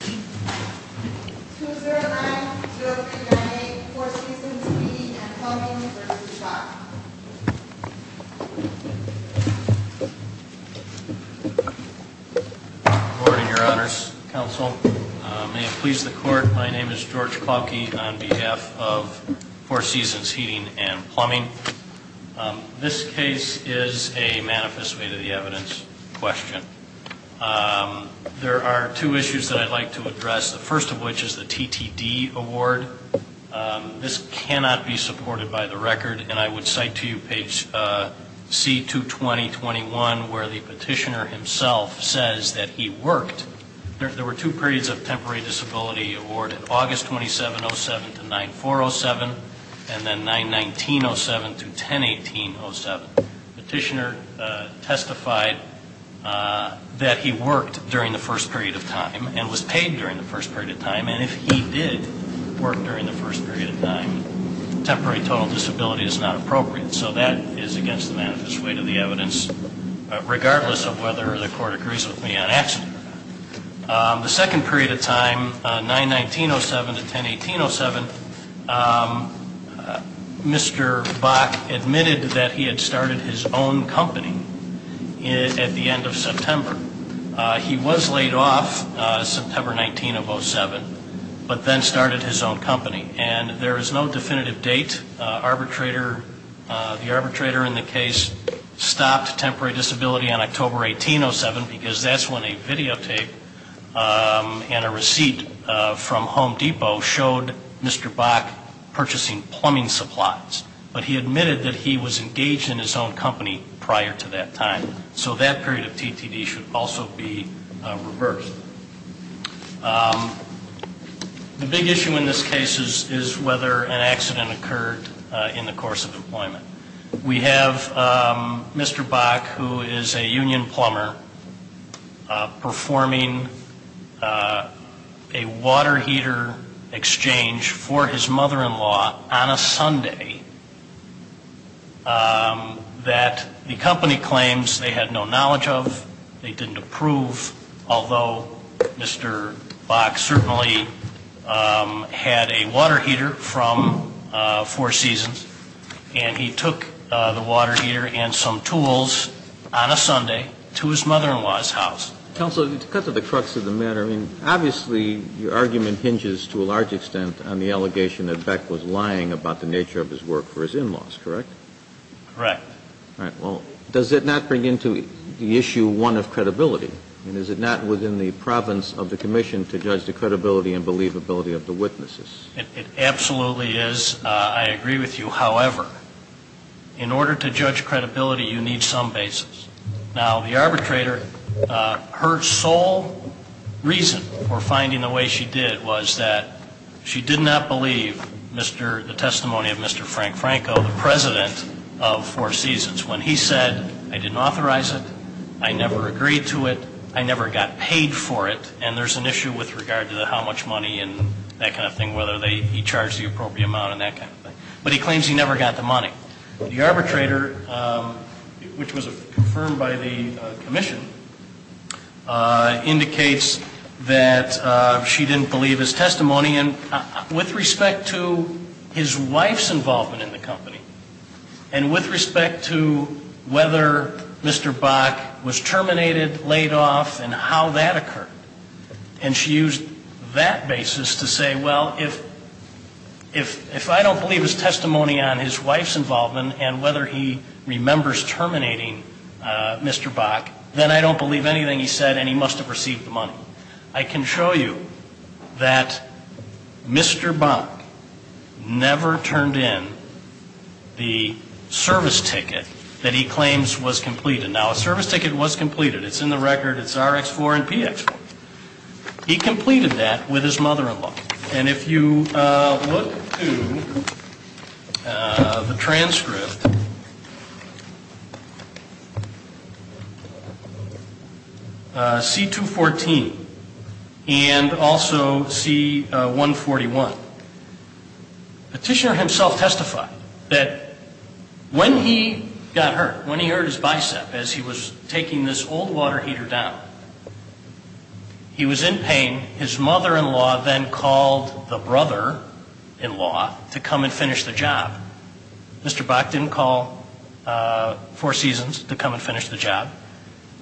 2-0-9-0-3-9-8 Four Seasons Heating and Plumbing v. Schock Board and your honors, counsel, may it please the court, my name is George Klauke on behalf of Four Seasons Heating and Plumbing. This case is a manifest way to the evidence question. There are two issues that I'd like to address, the first of which is the TTD award. This cannot be supported by the record and I would cite to you page C-2-20-21 where the petitioner himself says that he worked. There were two periods of temporary disability awarded, August 27-07 to 9-4-07 and then 9-19-07 to 10-18-07. The petitioner testified that he worked during the first period of time and was paid during the first period of time and if he did work during the first period of time, The second period of time, 9-19-07 to 10-18-07, Mr. Bach admitted that he had started his own company at the end of September. He was laid off September 19-07 but then started his own company and there is no definitive date. The arbitrator in the case stopped temporary disability on October 18-07 because that's when a videotape and a receipt from Home Depot showed Mr. Bach purchasing plumbing supplies. But he admitted that he was engaged in his own company prior to that time. So that period of TTD should also be reversed. The big issue in this case is whether an accident occurred in the course of employment. We have Mr. Bach who is a union plumber performing a water heater exchange for his mother-in-law on a Sunday that the company claims they had no knowledge of, they didn't approve, although Mr. Bach certainly had a water heater from Four Seasons and he took the water heater and some tools on a Sunday to his mother-in-law's house. Counsel, to cut to the crux of the matter, obviously your argument hinges to a large extent on the allegation that Beck was lying about the nature of his work for his in-laws, correct? Correct. All right. Well, does it not bring into the issue one of credibility? I mean, is it not within the province of the commission to judge the credibility and believability of the witnesses? It absolutely is. I agree with you. However, in order to judge credibility, you need some basis. Now, the arbitrator, her sole reason for finding the way she did was that she did not believe the testimony of Mr. Frank Franco, the president of Four Seasons, when he said, I didn't authorize it, I never agreed to it, I never got paid for it, and there's an issue with regard to how much money and that kind of thing, whether he charged the appropriate amount and that kind of thing. But he claims he never got the money. The arbitrator, which was confirmed by the commission, indicates that she didn't believe his testimony. And with respect to his wife's involvement in the company, and with respect to whether Mr. Bach was terminated, laid off, and how that occurred, and she used that basis to say, well, if I don't believe his testimony on his wife's involvement and whether he remembers terminating Mr. Bach, then I don't believe anything he said and he must have received the money. I can show you that Mr. Bach never turned in the service ticket that he claims was completed. Now, a service ticket was completed. It's in the record. It's RX4 and PX4. He completed that with his mother-in-law. And if you look to the transcript, C214 and also C141, Petitioner himself testified that when he got hurt, when he hurt his bicep as he was taking this old water heater down, he was in pain. His mother-in-law then called the brother-in-law to come and finish the job. Mr. Bach didn't call Four Seasons to come and finish the job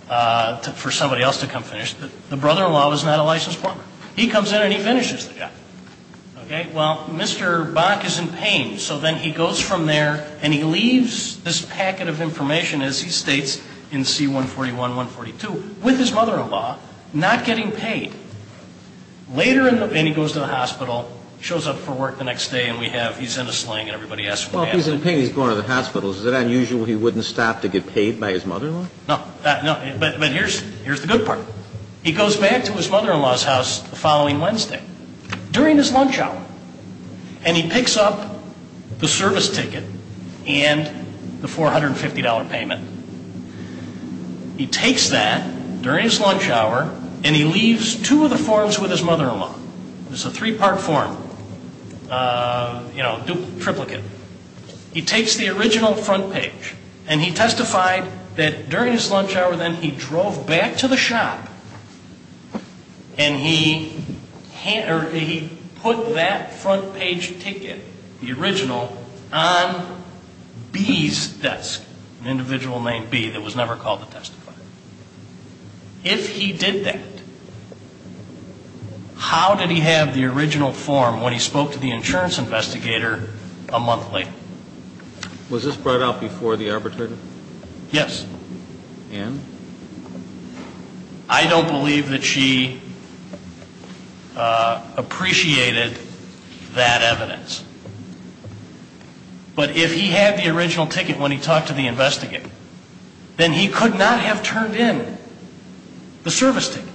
for somebody else to come finish. The brother-in-law was not a licensed plumber. He comes in and he finishes the job. Okay. Well, Mr. Bach is in pain, so then he goes from there and he leaves this packet of information, as he states, in C141, 142, with his mother-in-law, not getting paid. Later in the – and he goes to the hospital, shows up for work the next day, and we have – he's in a sling and everybody asks what happened. Well, if he's in pain, he's going to the hospital. Is it unusual he wouldn't stop to get paid by his mother-in-law? No. No. But here's the good part. He goes back to his mother-in-law's house the following Wednesday. During his lunch hour, and he picks up the service ticket and the $450 payment. He takes that during his lunch hour and he leaves two of the forms with his mother-in-law. It's a three-part form, you know, triplicate. He takes the original front page and he testified that during his lunch hour then he drove back to the shop and he put that front page ticket, the original, on B's desk, an individual named B that was never called to testify. If he did that, how did he have the original form when he spoke to the insurance investigator a month later? Was this brought out before the arbitrator? Yes. And? I don't believe that she appreciated that evidence. But if he had the original ticket when he talked to the investigator, then he could not have turned in the service ticket.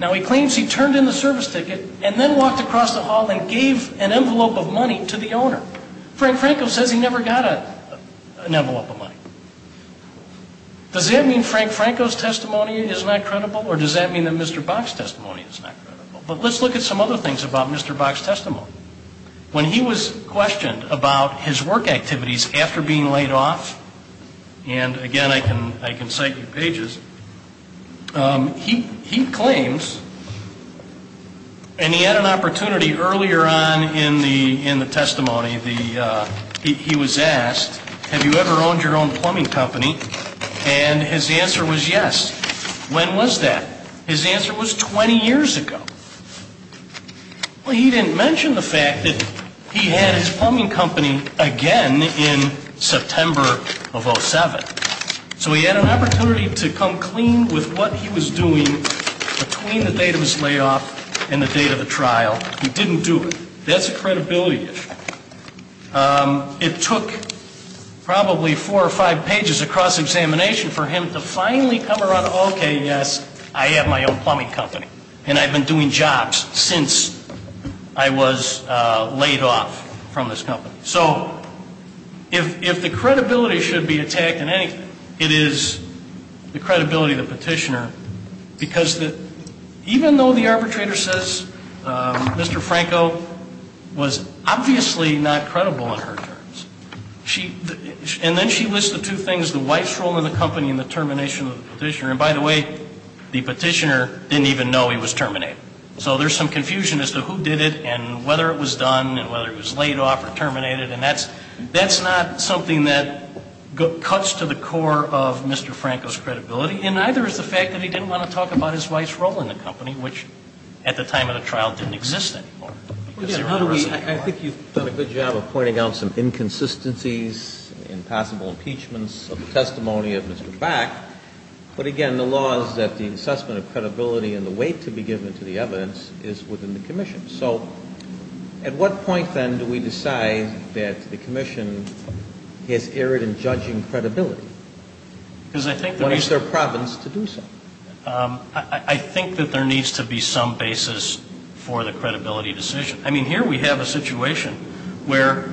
Now, he claims he turned in the service ticket and then walked across the hall and gave an envelope of money to the owner. Frank Franco says he never got an envelope of money. Does that mean Frank Franco's testimony is not credible or does that mean that Mr. Bach's testimony is not credible? But let's look at some other things about Mr. Bach's testimony. When he was questioned about his work activities after being laid off, and, again, I can cite your pages, he claims, and he had an opportunity earlier on in the testimony, he was asked, have you ever owned your own plumbing company? And his answer was yes. When was that? His answer was 20 years ago. Well, he didn't mention the fact that he had his plumbing company again in September of 07. So he had an opportunity to come clean with what he was doing between the date of his layoff and the date of the trial. He didn't do it. That's a credibility issue. It took probably four or five pages of cross-examination for him to finally come around to, okay, yes, I have my own plumbing company and I've been doing jobs since I was laid off from this company. So if the credibility should be attacked in anything, it is the credibility of the petitioner because even though the arbitrator says Mr. Franco was obviously not credible in her terms, and then she lists the two things, the wife's role in the company and the termination of the petitioner. And, by the way, the petitioner didn't even know he was terminated. So there's some confusion as to who did it and whether it was done and whether it was laid off or terminated, and that's not something that cuts to the core of Mr. Franco's credibility, and neither is the fact that he didn't want to talk about his wife's role in the company, which at the time of the trial didn't exist anymore. I think you've done a good job of pointing out some inconsistencies and possible impeachments of the testimony of Mr. Back. But, again, the law is that the assessment of credibility and the weight to be given to the evidence is within the commission. So at what point, then, do we decide that the commission has erred in judging credibility? What is their province to do so? I think that there needs to be some basis for the credibility decision. I mean, here we have a situation where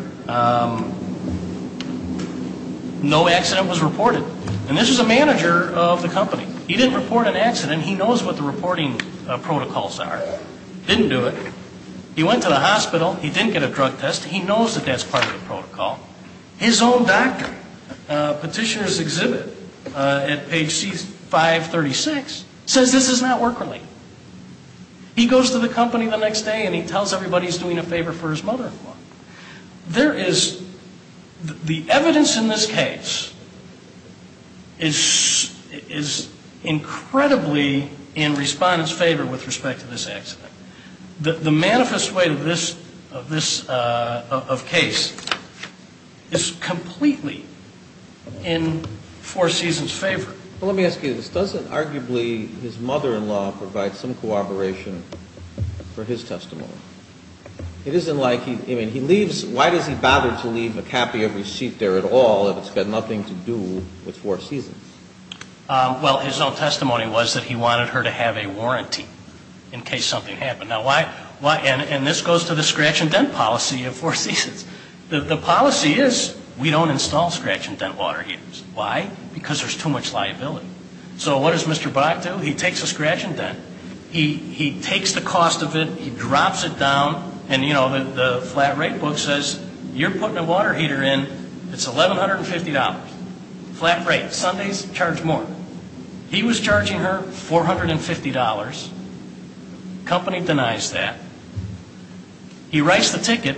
no accident was reported. And this is a manager of the company. He didn't report an accident. He knows what the reporting protocols are. Didn't do it. He went to the hospital. He knows that that's part of the protocol. His own doctor, petitioner's exhibit at page 536, says this is not work-related. He goes to the company the next day, and he tells everybody he's doing a favor for his mother-in-law. There is the evidence in this case is incredibly in respondents' favor with respect to this accident. The manifest way of this case is completely in Four Seasons' favor. Well, let me ask you this. Doesn't arguably his mother-in-law provide some cooperation for his testimony? It isn't like he leaves. Why does he bother to leave a copy of receipt there at all if it's got nothing to do with Four Seasons? Well, his own testimony was that he wanted her to have a warranty in case something happened. Now, why? And this goes to the scratch-and-dent policy of Four Seasons. The policy is we don't install scratch-and-dent water heaters. Why? Because there's too much liability. So what does Mr. Bach do? He takes a scratch-and-dent. He takes the cost of it. He drops it down. And, you know, the flat rate book says you're putting a water heater in. It's $1,150. Flat rate. Sundays, charge more. He was charging her $450. The company denies that. He writes the ticket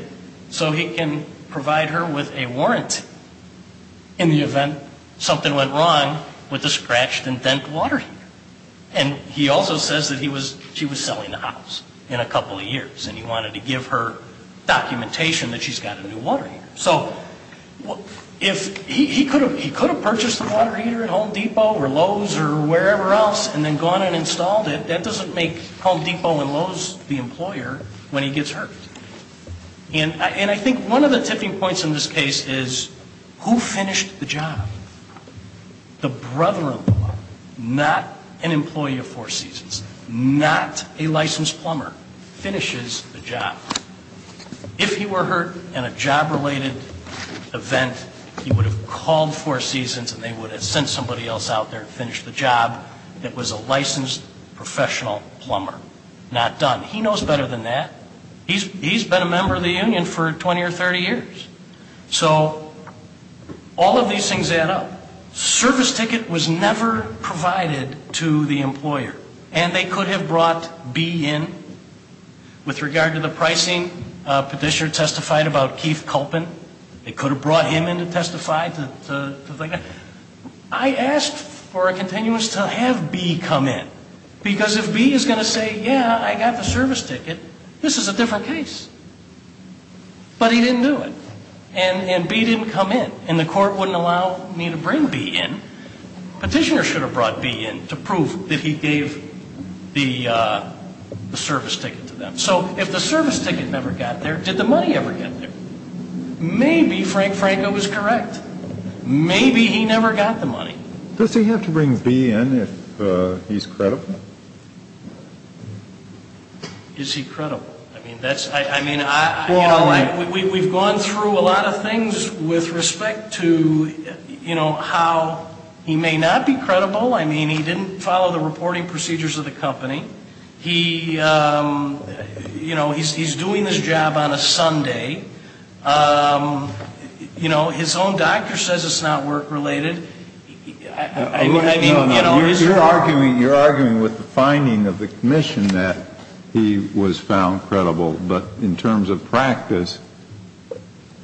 so he can provide her with a warrant in the event something went wrong with the scratch-and-dent water heater. And he also says that she was selling the house in a couple of years, and he wanted to give her documentation that she's got a new water heater. So he could have purchased the water heater at Home Depot or Lowe's or wherever else and then gone and installed it. That doesn't make Home Depot and Lowe's the employer when he gets hurt. And I think one of the tipping points in this case is who finished the job? The brother-in-law, not an employee of Four Seasons, not a licensed plumber, finishes the job. If he were hurt in a job-related event, he would have called Four Seasons and they would have sent somebody else out there and finished the job. It was a licensed professional plumber. Not done. He knows better than that. He's been a member of the union for 20 or 30 years. So all of these things add up. Service ticket was never provided to the employer. And they could have brought B in. With regard to the pricing, petitioner testified about Keith Culpin. They could have brought him in to testify. I asked for a continuance to have B come in. Because if B is going to say, yeah, I got the service ticket, this is a different case. But he didn't do it. And B didn't come in. And the court wouldn't allow me to bring B in. Petitioner should have brought B in to prove that he gave the service ticket to them. So if the service ticket never got there, did the money ever get there? Maybe Frank Franco was correct. Maybe he never got the money. Does he have to bring B in if he's credible? Is he credible? I mean, we've gone through a lot of things with respect to, you know, how he may not be credible. I mean, he didn't follow the reporting procedures of the company. He, you know, he's doing this job on a Sunday. You know, his own doctor says it's not work related. You're arguing with the finding of the commission that he was found credible. But in terms of practice,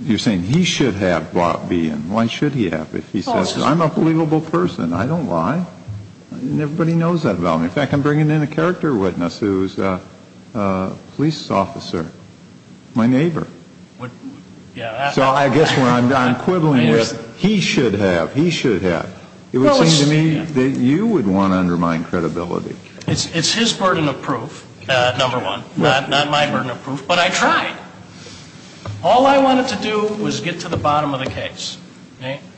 you're saying he should have brought B in. Why should he have? If he says, I'm a believable person. I don't lie. And everybody knows that about me. In fact, I'm bringing in a character witness who is a police officer, my neighbor. So I guess what I'm quibbling with, he should have, he should have. It would seem to me that you would want to undermine credibility. It's his burden of proof, number one. Not my burden of proof. But I tried. All I wanted to do was get to the bottom of the case.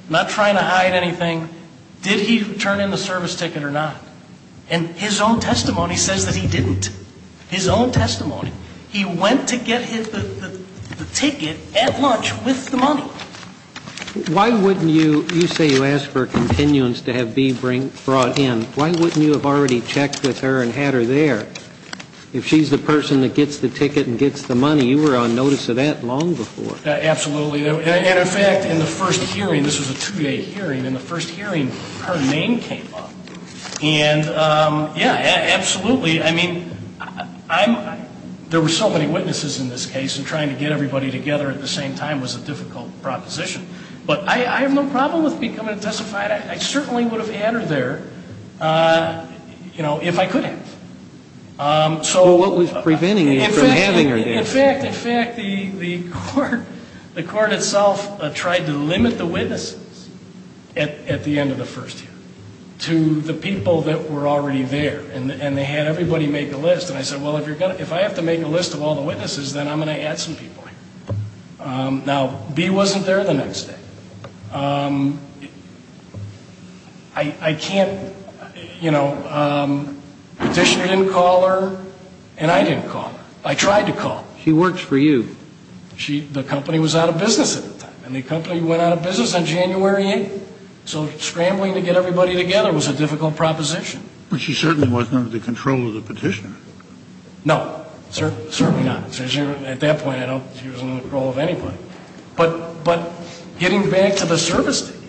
Not trying to hide anything. Did he turn in the service ticket or not? And his own testimony says that he didn't. His own testimony. He went to get the ticket at lunch with the money. Why wouldn't you, you say you asked for continuance to have B brought in. Why wouldn't you have already checked with her and had her there? If she's the person that gets the ticket and gets the money, you were on notice of that long before. Absolutely. And, in fact, in the first hearing, this was a two-day hearing. In the first hearing, her name came up. And, yeah, absolutely. I mean, there were so many witnesses in this case, and trying to get everybody together at the same time was a difficult proposition. But I have no problem with becoming a testifier. I certainly would have had her there, you know, if I could have. Well, what was preventing you from having her there? In fact, in fact, the court itself tried to limit the witnesses at the end of the first hearing to the people that were already there. And they had everybody make a list. And I said, well, if I have to make a list of all the witnesses, then I'm going to add some people in. Now, B wasn't there the next day. I can't, you know, the petitioner didn't call her, and I didn't call her. I tried to call her. She works for you. The company was out of business at the time. And the company went out of business on January 8th. So scrambling to get everybody together was a difficult proposition. But she certainly wasn't under the control of the petitioner. No, certainly not. At that point, she was under the control of anybody. But getting back to the service ticket,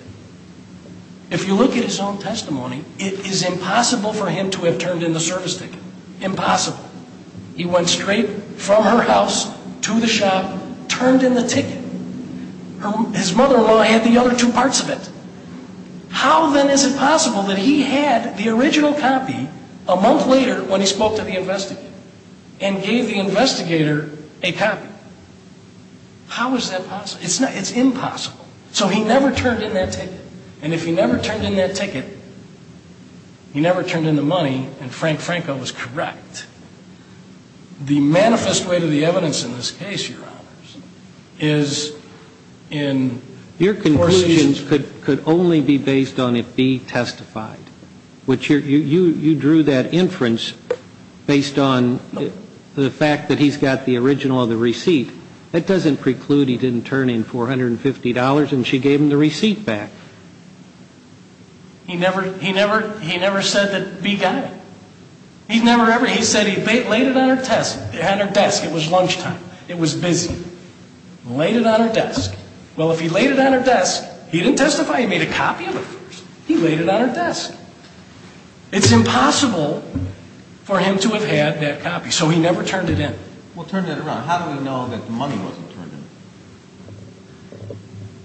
if you look at his own testimony, it is impossible for him to have turned in the service ticket. Impossible. He went straight from her house to the shop, turned in the ticket. His mother-in-law had the other two parts of it. How, then, is it possible that he had the original copy a month later when he spoke to the investigator and gave the investigator a copy? How is that possible? It's impossible. So he never turned in that ticket. And if he never turned in that ticket, he never turned in the money, and Frank Franco was correct. The manifest way to the evidence in this case, Your Honors, is in four seasons. Your conclusions could only be based on if B testified. You drew that inference based on the fact that he's got the original of the receipt. That doesn't preclude he didn't turn in $450 and she gave him the receipt back. He never said that B got it. He said he laid it on her desk. It was lunchtime. It was busy. Laid it on her desk. Well, if he laid it on her desk, he didn't testify. He made a copy of it first. He laid it on her desk. It's impossible for him to have had that copy, so he never turned it in. Well, turn that around. How do we know that the money wasn't turned in?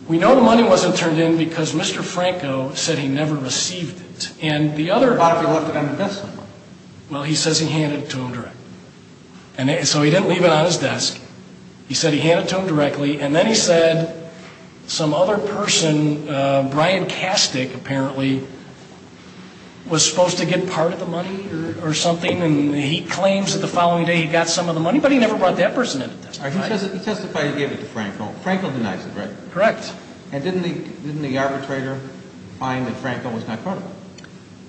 We know the money wasn't turned in because Mr. Franco said he never received it. What about if he left it on the desk somewhere? Well, he says he handed it to him directly. So he didn't leave it on his desk. He said he handed it to him directly, and then he said some other person, Brian Kastick apparently, was supposed to get part of the money or something, and he claims that the following day he got some of the money, but he never brought that person in to testify. He testified he gave it to Franco. Franco denies it, right? Correct. And didn't the arbitrator find that Franco was not criminal?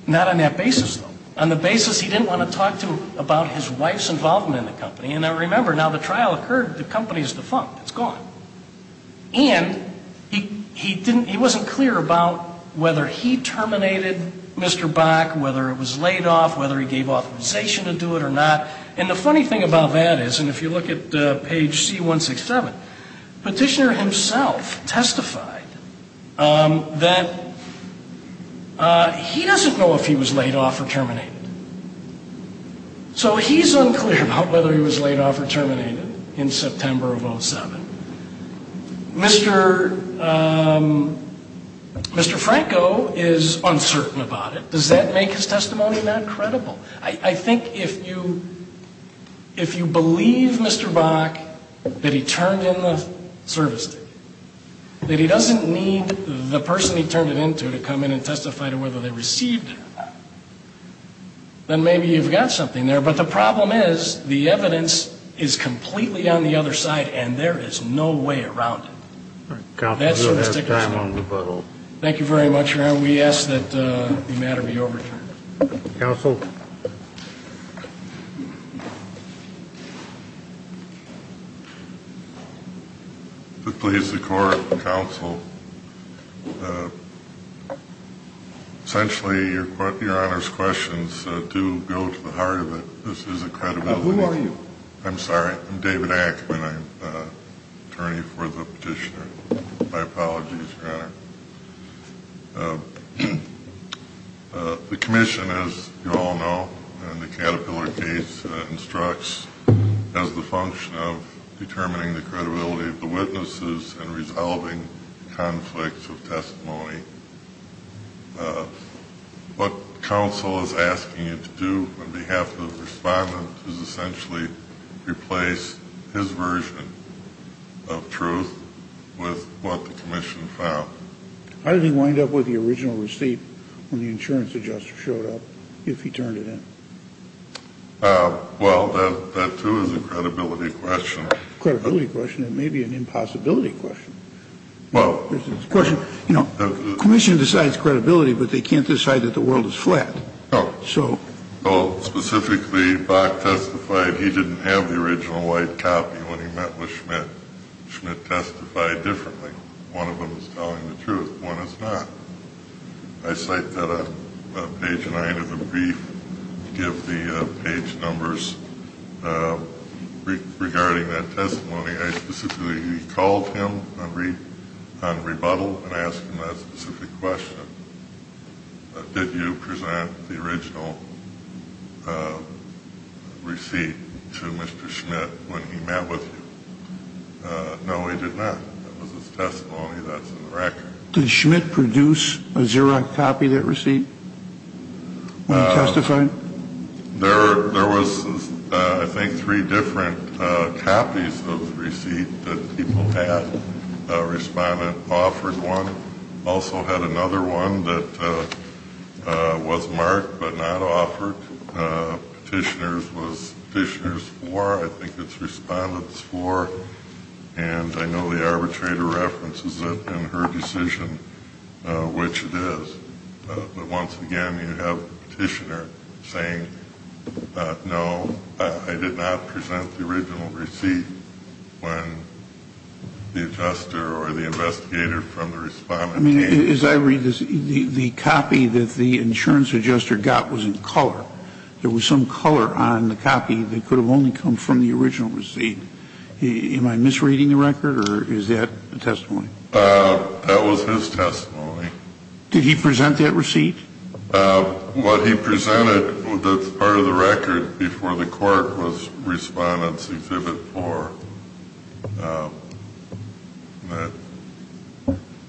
Not on that basis, though. On the basis he didn't want to talk to him about his wife's involvement in the company. And now remember, now the trial occurred, the company is defunct. It's gone. And he wasn't clear about whether he terminated Mr. Bach, whether it was laid off, whether he gave authorization to do it or not. And the funny thing about that is, and if you look at page C-167, petitioner himself testified that he doesn't know if he was laid off or terminated. So he's unclear about whether he was laid off or terminated in September of 2007. Mr. Franco is uncertain about it. Does that make his testimony not credible? I think if you believe, Mr. Bach, that he turned in the service, that he doesn't need the person he turned it into to come in and testify to whether they received it, then maybe you've got something there. But the problem is the evidence is completely on the other side, and there is no way around it. All right. Counsel, you'll have time on rebuttal. Thank you very much, Your Honor. We ask that the matter be overturned. Counsel? If it pleases the Court, Counsel, essentially, Your Honor's questions do go to the heart of it. This is a credibility. Who are you? I'm sorry. I'm David Ackman. I'm attorney for the petitioner. My apologies, Your Honor. The commission, as you all know, in the Caterpillar case, instructs as the function of determining the credibility of the witnesses and resolving conflicts of testimony. What counsel is asking you to do on behalf of the respondent is essentially replace his version of truth with what the commission found. How did he wind up with the original receipt when the insurance adjuster showed up, if he turned it in? Well, that, too, is a credibility question. Credibility question? It may be an impossibility question. The question, you know, commission decides credibility, but they can't decide that the world is flat. Specifically, Bach testified he didn't have the original white copy when he met with Schmidt. Schmidt testified differently. One of them is telling the truth. One is not. I cite that on page 9 of the brief to give the page numbers regarding that testimony. I specifically called him on rebuttal and asked him that specific question. Did you present the original receipt to Mr. Schmidt when he met with you? No, he did not. It was his testimony that's in the record. Did Schmidt produce a Xerox copy of that receipt when he testified? There was, I think, three different copies of the receipt that people had. Respondent offered one. Also had another one that was marked but not offered. Petitioner's was Petitioner's 4. I think it's Respondent's 4. And I know the arbitrator references it in her decision, which it is. But once again, you have Petitioner saying, no, I did not present the original receipt when the adjuster or the investigator from the Respondent came. I mean, as I read this, the copy that the insurance adjuster got was in color. There was some color on the copy that could have only come from the original receipt. Am I misreading the record or is that a testimony? That was his testimony. Did he present that receipt? What he presented that's part of the record before the court was Respondent's exhibit 4.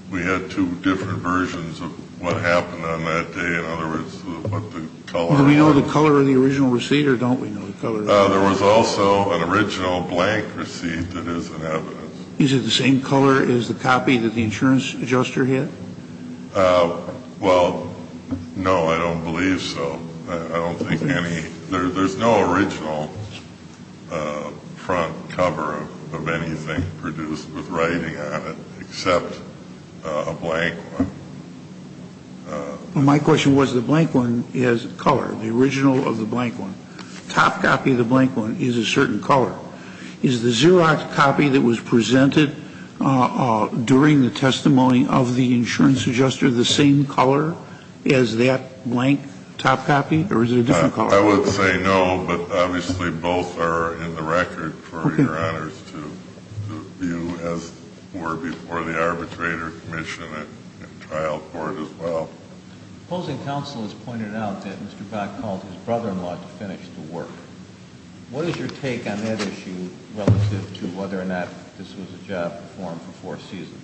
We had two different versions of what happened on that day. In other words, what the color was. Do we know the color of the original receipt or don't we know the color of the receipt? There was also an original blank receipt that isn't evidence. Is it the same color as the copy that the insurance adjuster had? Well, no, I don't believe so. I don't think any – there's no original front cover of anything produced with writing on it except a blank one. My question was the blank one is color, the original of the blank one. Top copy of the blank one is a certain color. Is the Xerox copy that was presented during the testimony of the insurance adjuster the same color as that blank top copy or is it a different color? I would say no, but obviously both are in the record for your honors to view as were before the arbitrator commission and trial court as well. Opposing counsel has pointed out that Mr. Gott called his brother-in-law to finish the work. What is your take on that issue relative to whether or not this was a job performed for four seasons?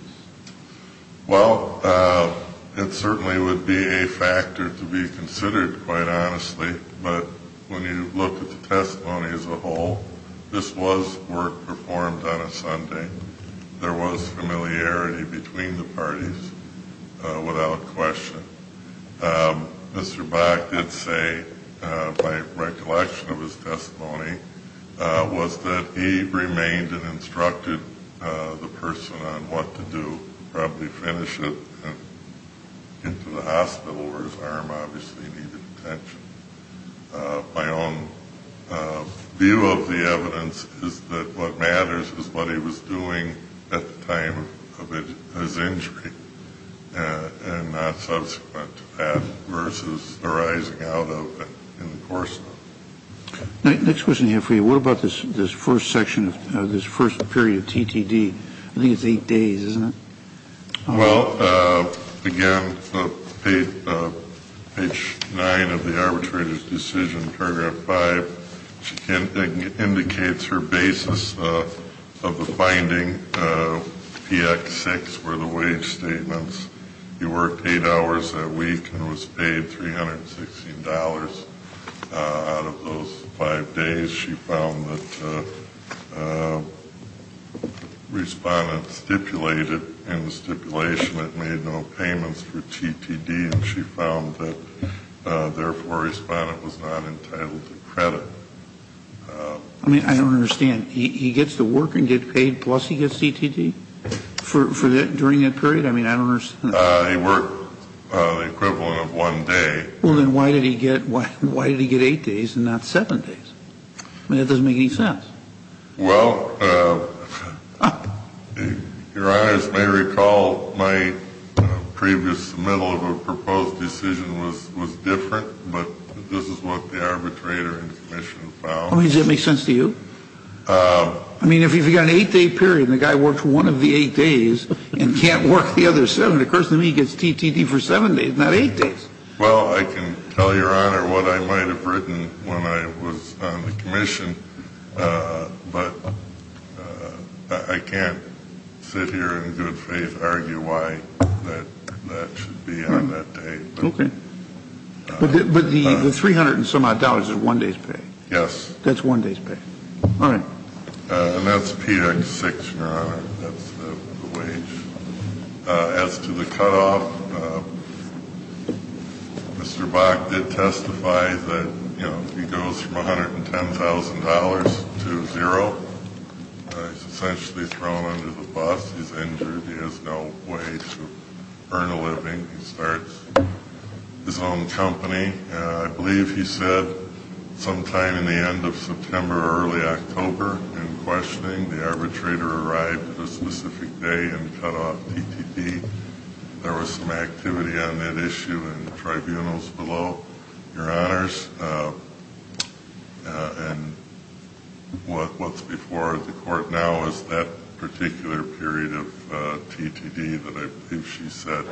Well, it certainly would be a factor to be considered, quite honestly. But when you look at the testimony as a whole, this was work performed on a Sunday. There was familiarity between the parties without question. Mr. Bach did say, by recollection of his testimony, was that he remained and instructed the person on what to do, probably finish it and get to the hospital where his arm obviously needed attention. My own view of the evidence is that what matters is what he was doing at the time of his injury and not subsequent to that versus the rising out of it in the course of it. Next question I have for you. What about this first section of this first period of TTD? I think it's eight days, isn't it? Well, again, page nine of the arbitrator's decision, paragraph five, it indicates her basis of the finding, PX6, were the wage statements. He worked eight hours a week and was paid $316. Out of those five days, she found that respondents stipulated in the stipulation that made no payments for TTD, and she found that, therefore, a respondent was not entitled to credit. I mean, I don't understand. He gets to work and get paid, plus he gets TTD during that period? I mean, I don't understand. He worked the equivalent of one day. Well, then why did he get eight days and not seven days? I mean, that doesn't make any sense. Well, Your Honors may recall my previous middle of a proposed decision was different, but this is what the arbitrator in question found. I mean, does that make sense to you? I mean, if you've got an eight-day period and the guy worked one of the eight days and can't work the other seven, it occurs to me he gets TTD for seven days, not eight days. Well, I can tell Your Honor what I might have written when I was on the commission, but I can't sit here in good faith and argue why that should be on that day. Okay. But the $300 and some odd is one day's pay? Yes. That's one day's pay. All right. And that's PX6, Your Honor. That's the wage. As to the cutoff, Mr. Bach did testify that he goes from $110,000 to zero. He's essentially thrown under the bus. He's injured. He has no way to earn a living. He starts his own company. I believe he said sometime in the end of September or early October in questioning, when the arbitrator arrived at a specific day and cut off TTD, there was some activity on that issue in the tribunals below, Your Honors. And what's before the court now is that particular period of TTD that I believe she said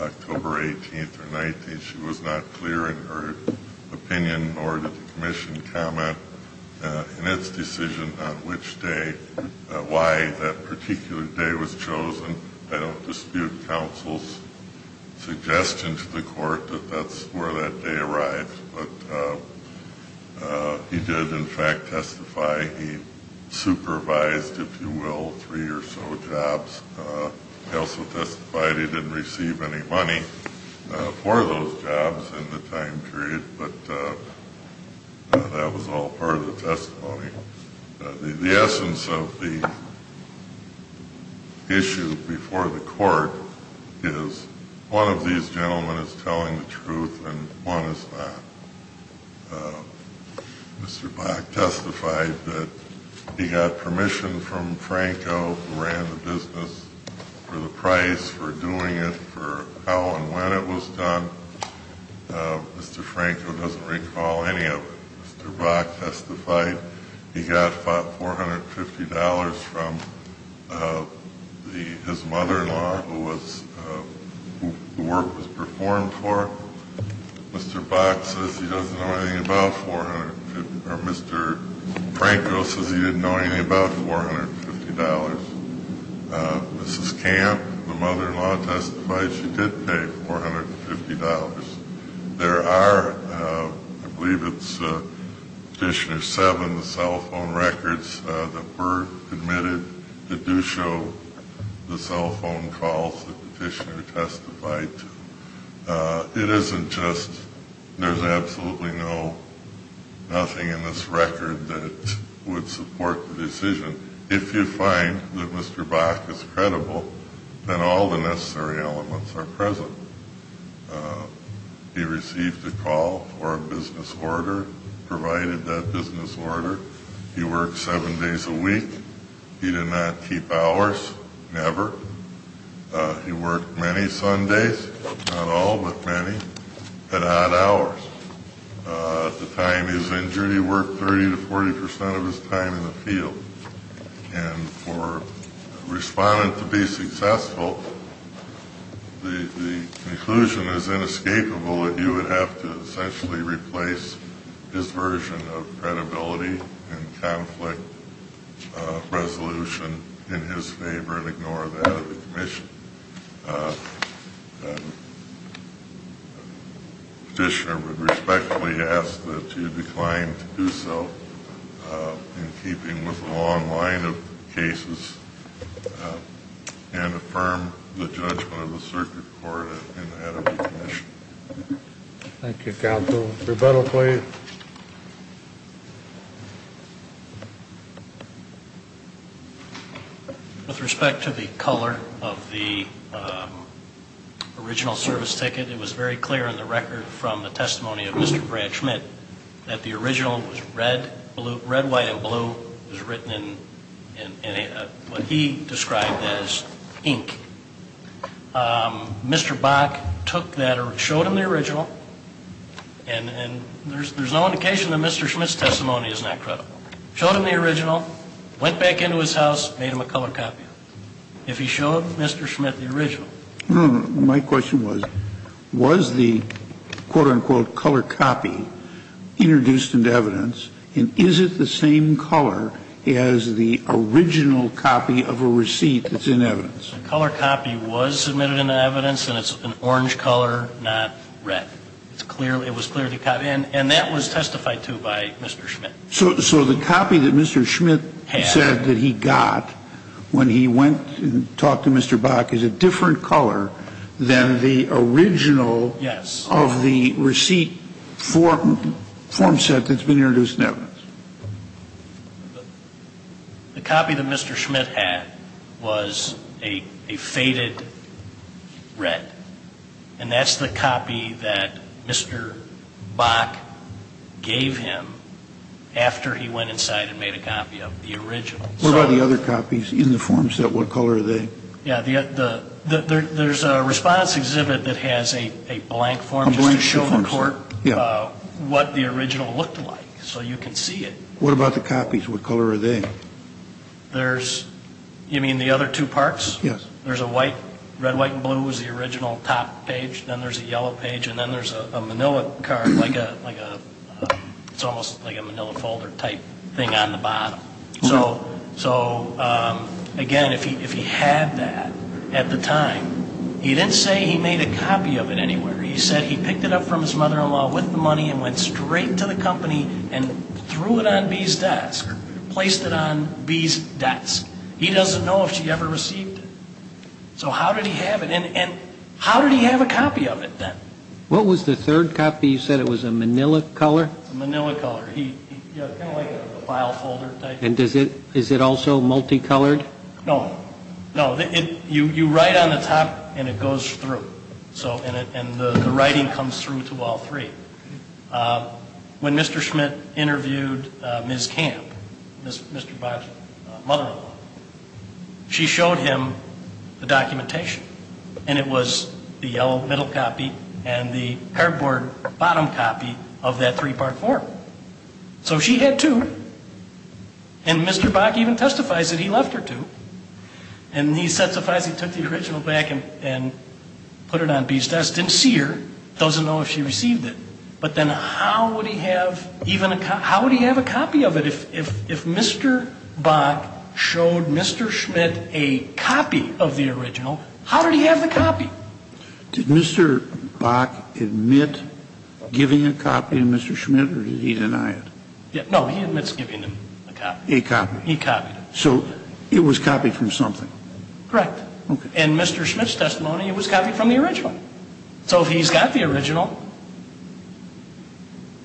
October 18th or 19th. She was not clear in her opinion nor did the commission comment in its decision on which day, why that particular day was chosen. I don't dispute counsel's suggestion to the court that that's where that day arrived. But he did, in fact, testify. He supervised, if you will, three or so jobs. He also testified he didn't receive any money for those jobs in the time period, but that was all part of the testimony. The essence of the issue before the court is one of these gentlemen is telling the truth and one is not. Mr. Bach testified that he got permission from Franco, who ran the business, for the price, for doing it, for how and when it was done. Mr. Franco doesn't recall any of it. Mr. Bach testified he got $450 from his mother-in-law, who the work was performed for. Mr. Bach says he doesn't know anything about $450, or Mr. Franco says he didn't know anything about $450. Mrs. Camp, the mother-in-law, testified she did pay $450. There are, I believe it's Petitioner 7, the cell phone records that were admitted that do show the cell phone calls that the petitioner testified to. It isn't just, there's absolutely nothing in this record that would support the decision. If you find that Mr. Bach is credible, then all the necessary elements are present. He received a call for a business order, provided that business order. He worked seven days a week. He did not keep hours, never. He worked many Sundays, not all, but many, at odd hours. At the time he was injured, he worked 30 to 40% of his time in the field. And for a respondent to be successful, the conclusion is inescapable that you would have to essentially replace his version of credibility and conflict resolution in his favor and ignore that of the commission. Petitioner would respectfully ask that you decline to do so in keeping with the law and line of cases and affirm the judgment of the circuit court and the head of the commission. Thank you, Counsel. Rebuttal, please. With respect to the color of the original service ticket, it was very clear in the record from the testimony of Mr. Brad Schmidt that the original was red, red, white, and blue was written in what he described as ink. Mr. Bach took that or showed him the original, and there's no indication that Mr. Schmidt's testimony is not credible. Showed him the original, went back into his house, made him a color copy. If he showed Mr. Schmidt the original. My question was, was the quote-unquote color copy introduced into evidence, and is it the same color as the original copy of a receipt that's in evidence? The color copy was submitted into evidence, and it's an orange color, not red. It was clearly the color, and that was testified to by Mr. Schmidt. So the copy that Mr. Schmidt said that he got when he went and talked to Mr. Bach is a different color than the original. Yes. Of the receipt form set that's been introduced in evidence. The copy that Mr. Schmidt had was a faded red, and that's the copy that Mr. Bach gave him after he went inside and made a copy of the original. What about the other copies in the form set? What color are they? Yeah, there's a response exhibit that has a blank form just to show the court what the original looked like so you can see it. What about the copies? What color are they? There's, you mean the other two parts? Yes. There's a white, red, white, and blue is the original top page, then there's a yellow page, and then there's a manila card, like a, it's almost like a manila folder type thing on the bottom. So, again, if he had that at the time, he didn't say he made a copy of it anywhere. He said he picked it up from his mother-in-law with the money and went straight to the company and threw it on B's desk or placed it on B's desk. He doesn't know if she ever received it. So how did he have it? And how did he have a copy of it then? What was the third copy? You said it was a manila color? It's a manila color. Kind of like a file folder type. And is it also multicolored? No. No. You write on the top and it goes through, and the writing comes through to all three. When Mr. Schmidt interviewed Ms. Camp, Mr. Bach's mother-in-law, she showed him the documentation, and it was the yellow middle copy and the cardboard bottom copy of that three-part form. So she had two, and Mr. Bach even testifies that he left her two, and he testifies he took the original back and put it on B's desk, didn't see her, doesn't know if she received it. But then how would he have even a copy? How would he have a copy of it? If Mr. Bach showed Mr. Schmidt a copy of the original, how did he have the copy? Did Mr. Bach admit giving a copy to Mr. Schmidt, or did he deny it? No. He admits giving him a copy. A copy. He copied it. So it was copied from something. Correct. Okay. In Mr. Schmidt's testimony, it was copied from the original. So if he's got the original,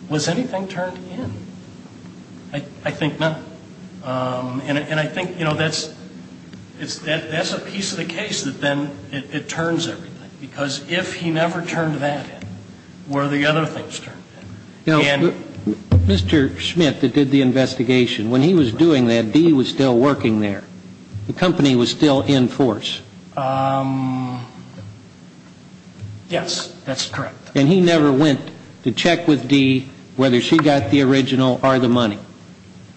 was anything turned in? I think not. And I think, you know, that's a piece of the case that then it turns everything, because if he never turned that in, where are the other things turned in? You know, Mr. Schmidt that did the investigation, when he was doing that, D was still working there. The company was still in force. Yes. That's correct. And he never went to check with D whether she got the original or the money,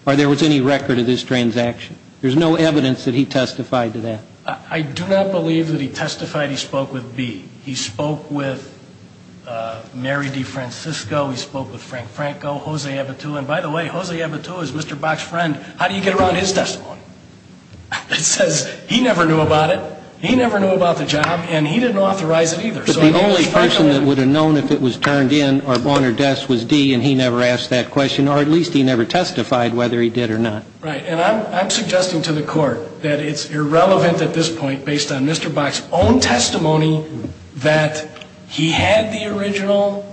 or there was any record of this transaction? There's no evidence that he testified to that. I do not believe that he testified. He spoke with B. He spoke with Mary DeFrancisco. He spoke with Frank Franco, Jose Ebatua. And, by the way, Jose Ebatua is Mr. Bach's friend. How do you get around his testimony? It says he never knew about it. He never knew about the job, and he didn't authorize it either. But the only person that would have known if it was turned in or on her desk was D, and he never asked that question, or at least he never testified whether he did or not. Right. And I'm suggesting to the court that it's irrelevant at this point, based on Mr. Bach's own testimony that he had the original,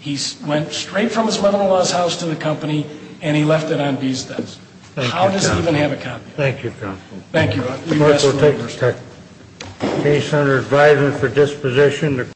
he went straight from his mother-in-law's house to the company, and he left it on B's desk. How does he even have a copy? Thank you, counsel. Thank you. The court will take the case under advisement for disposition.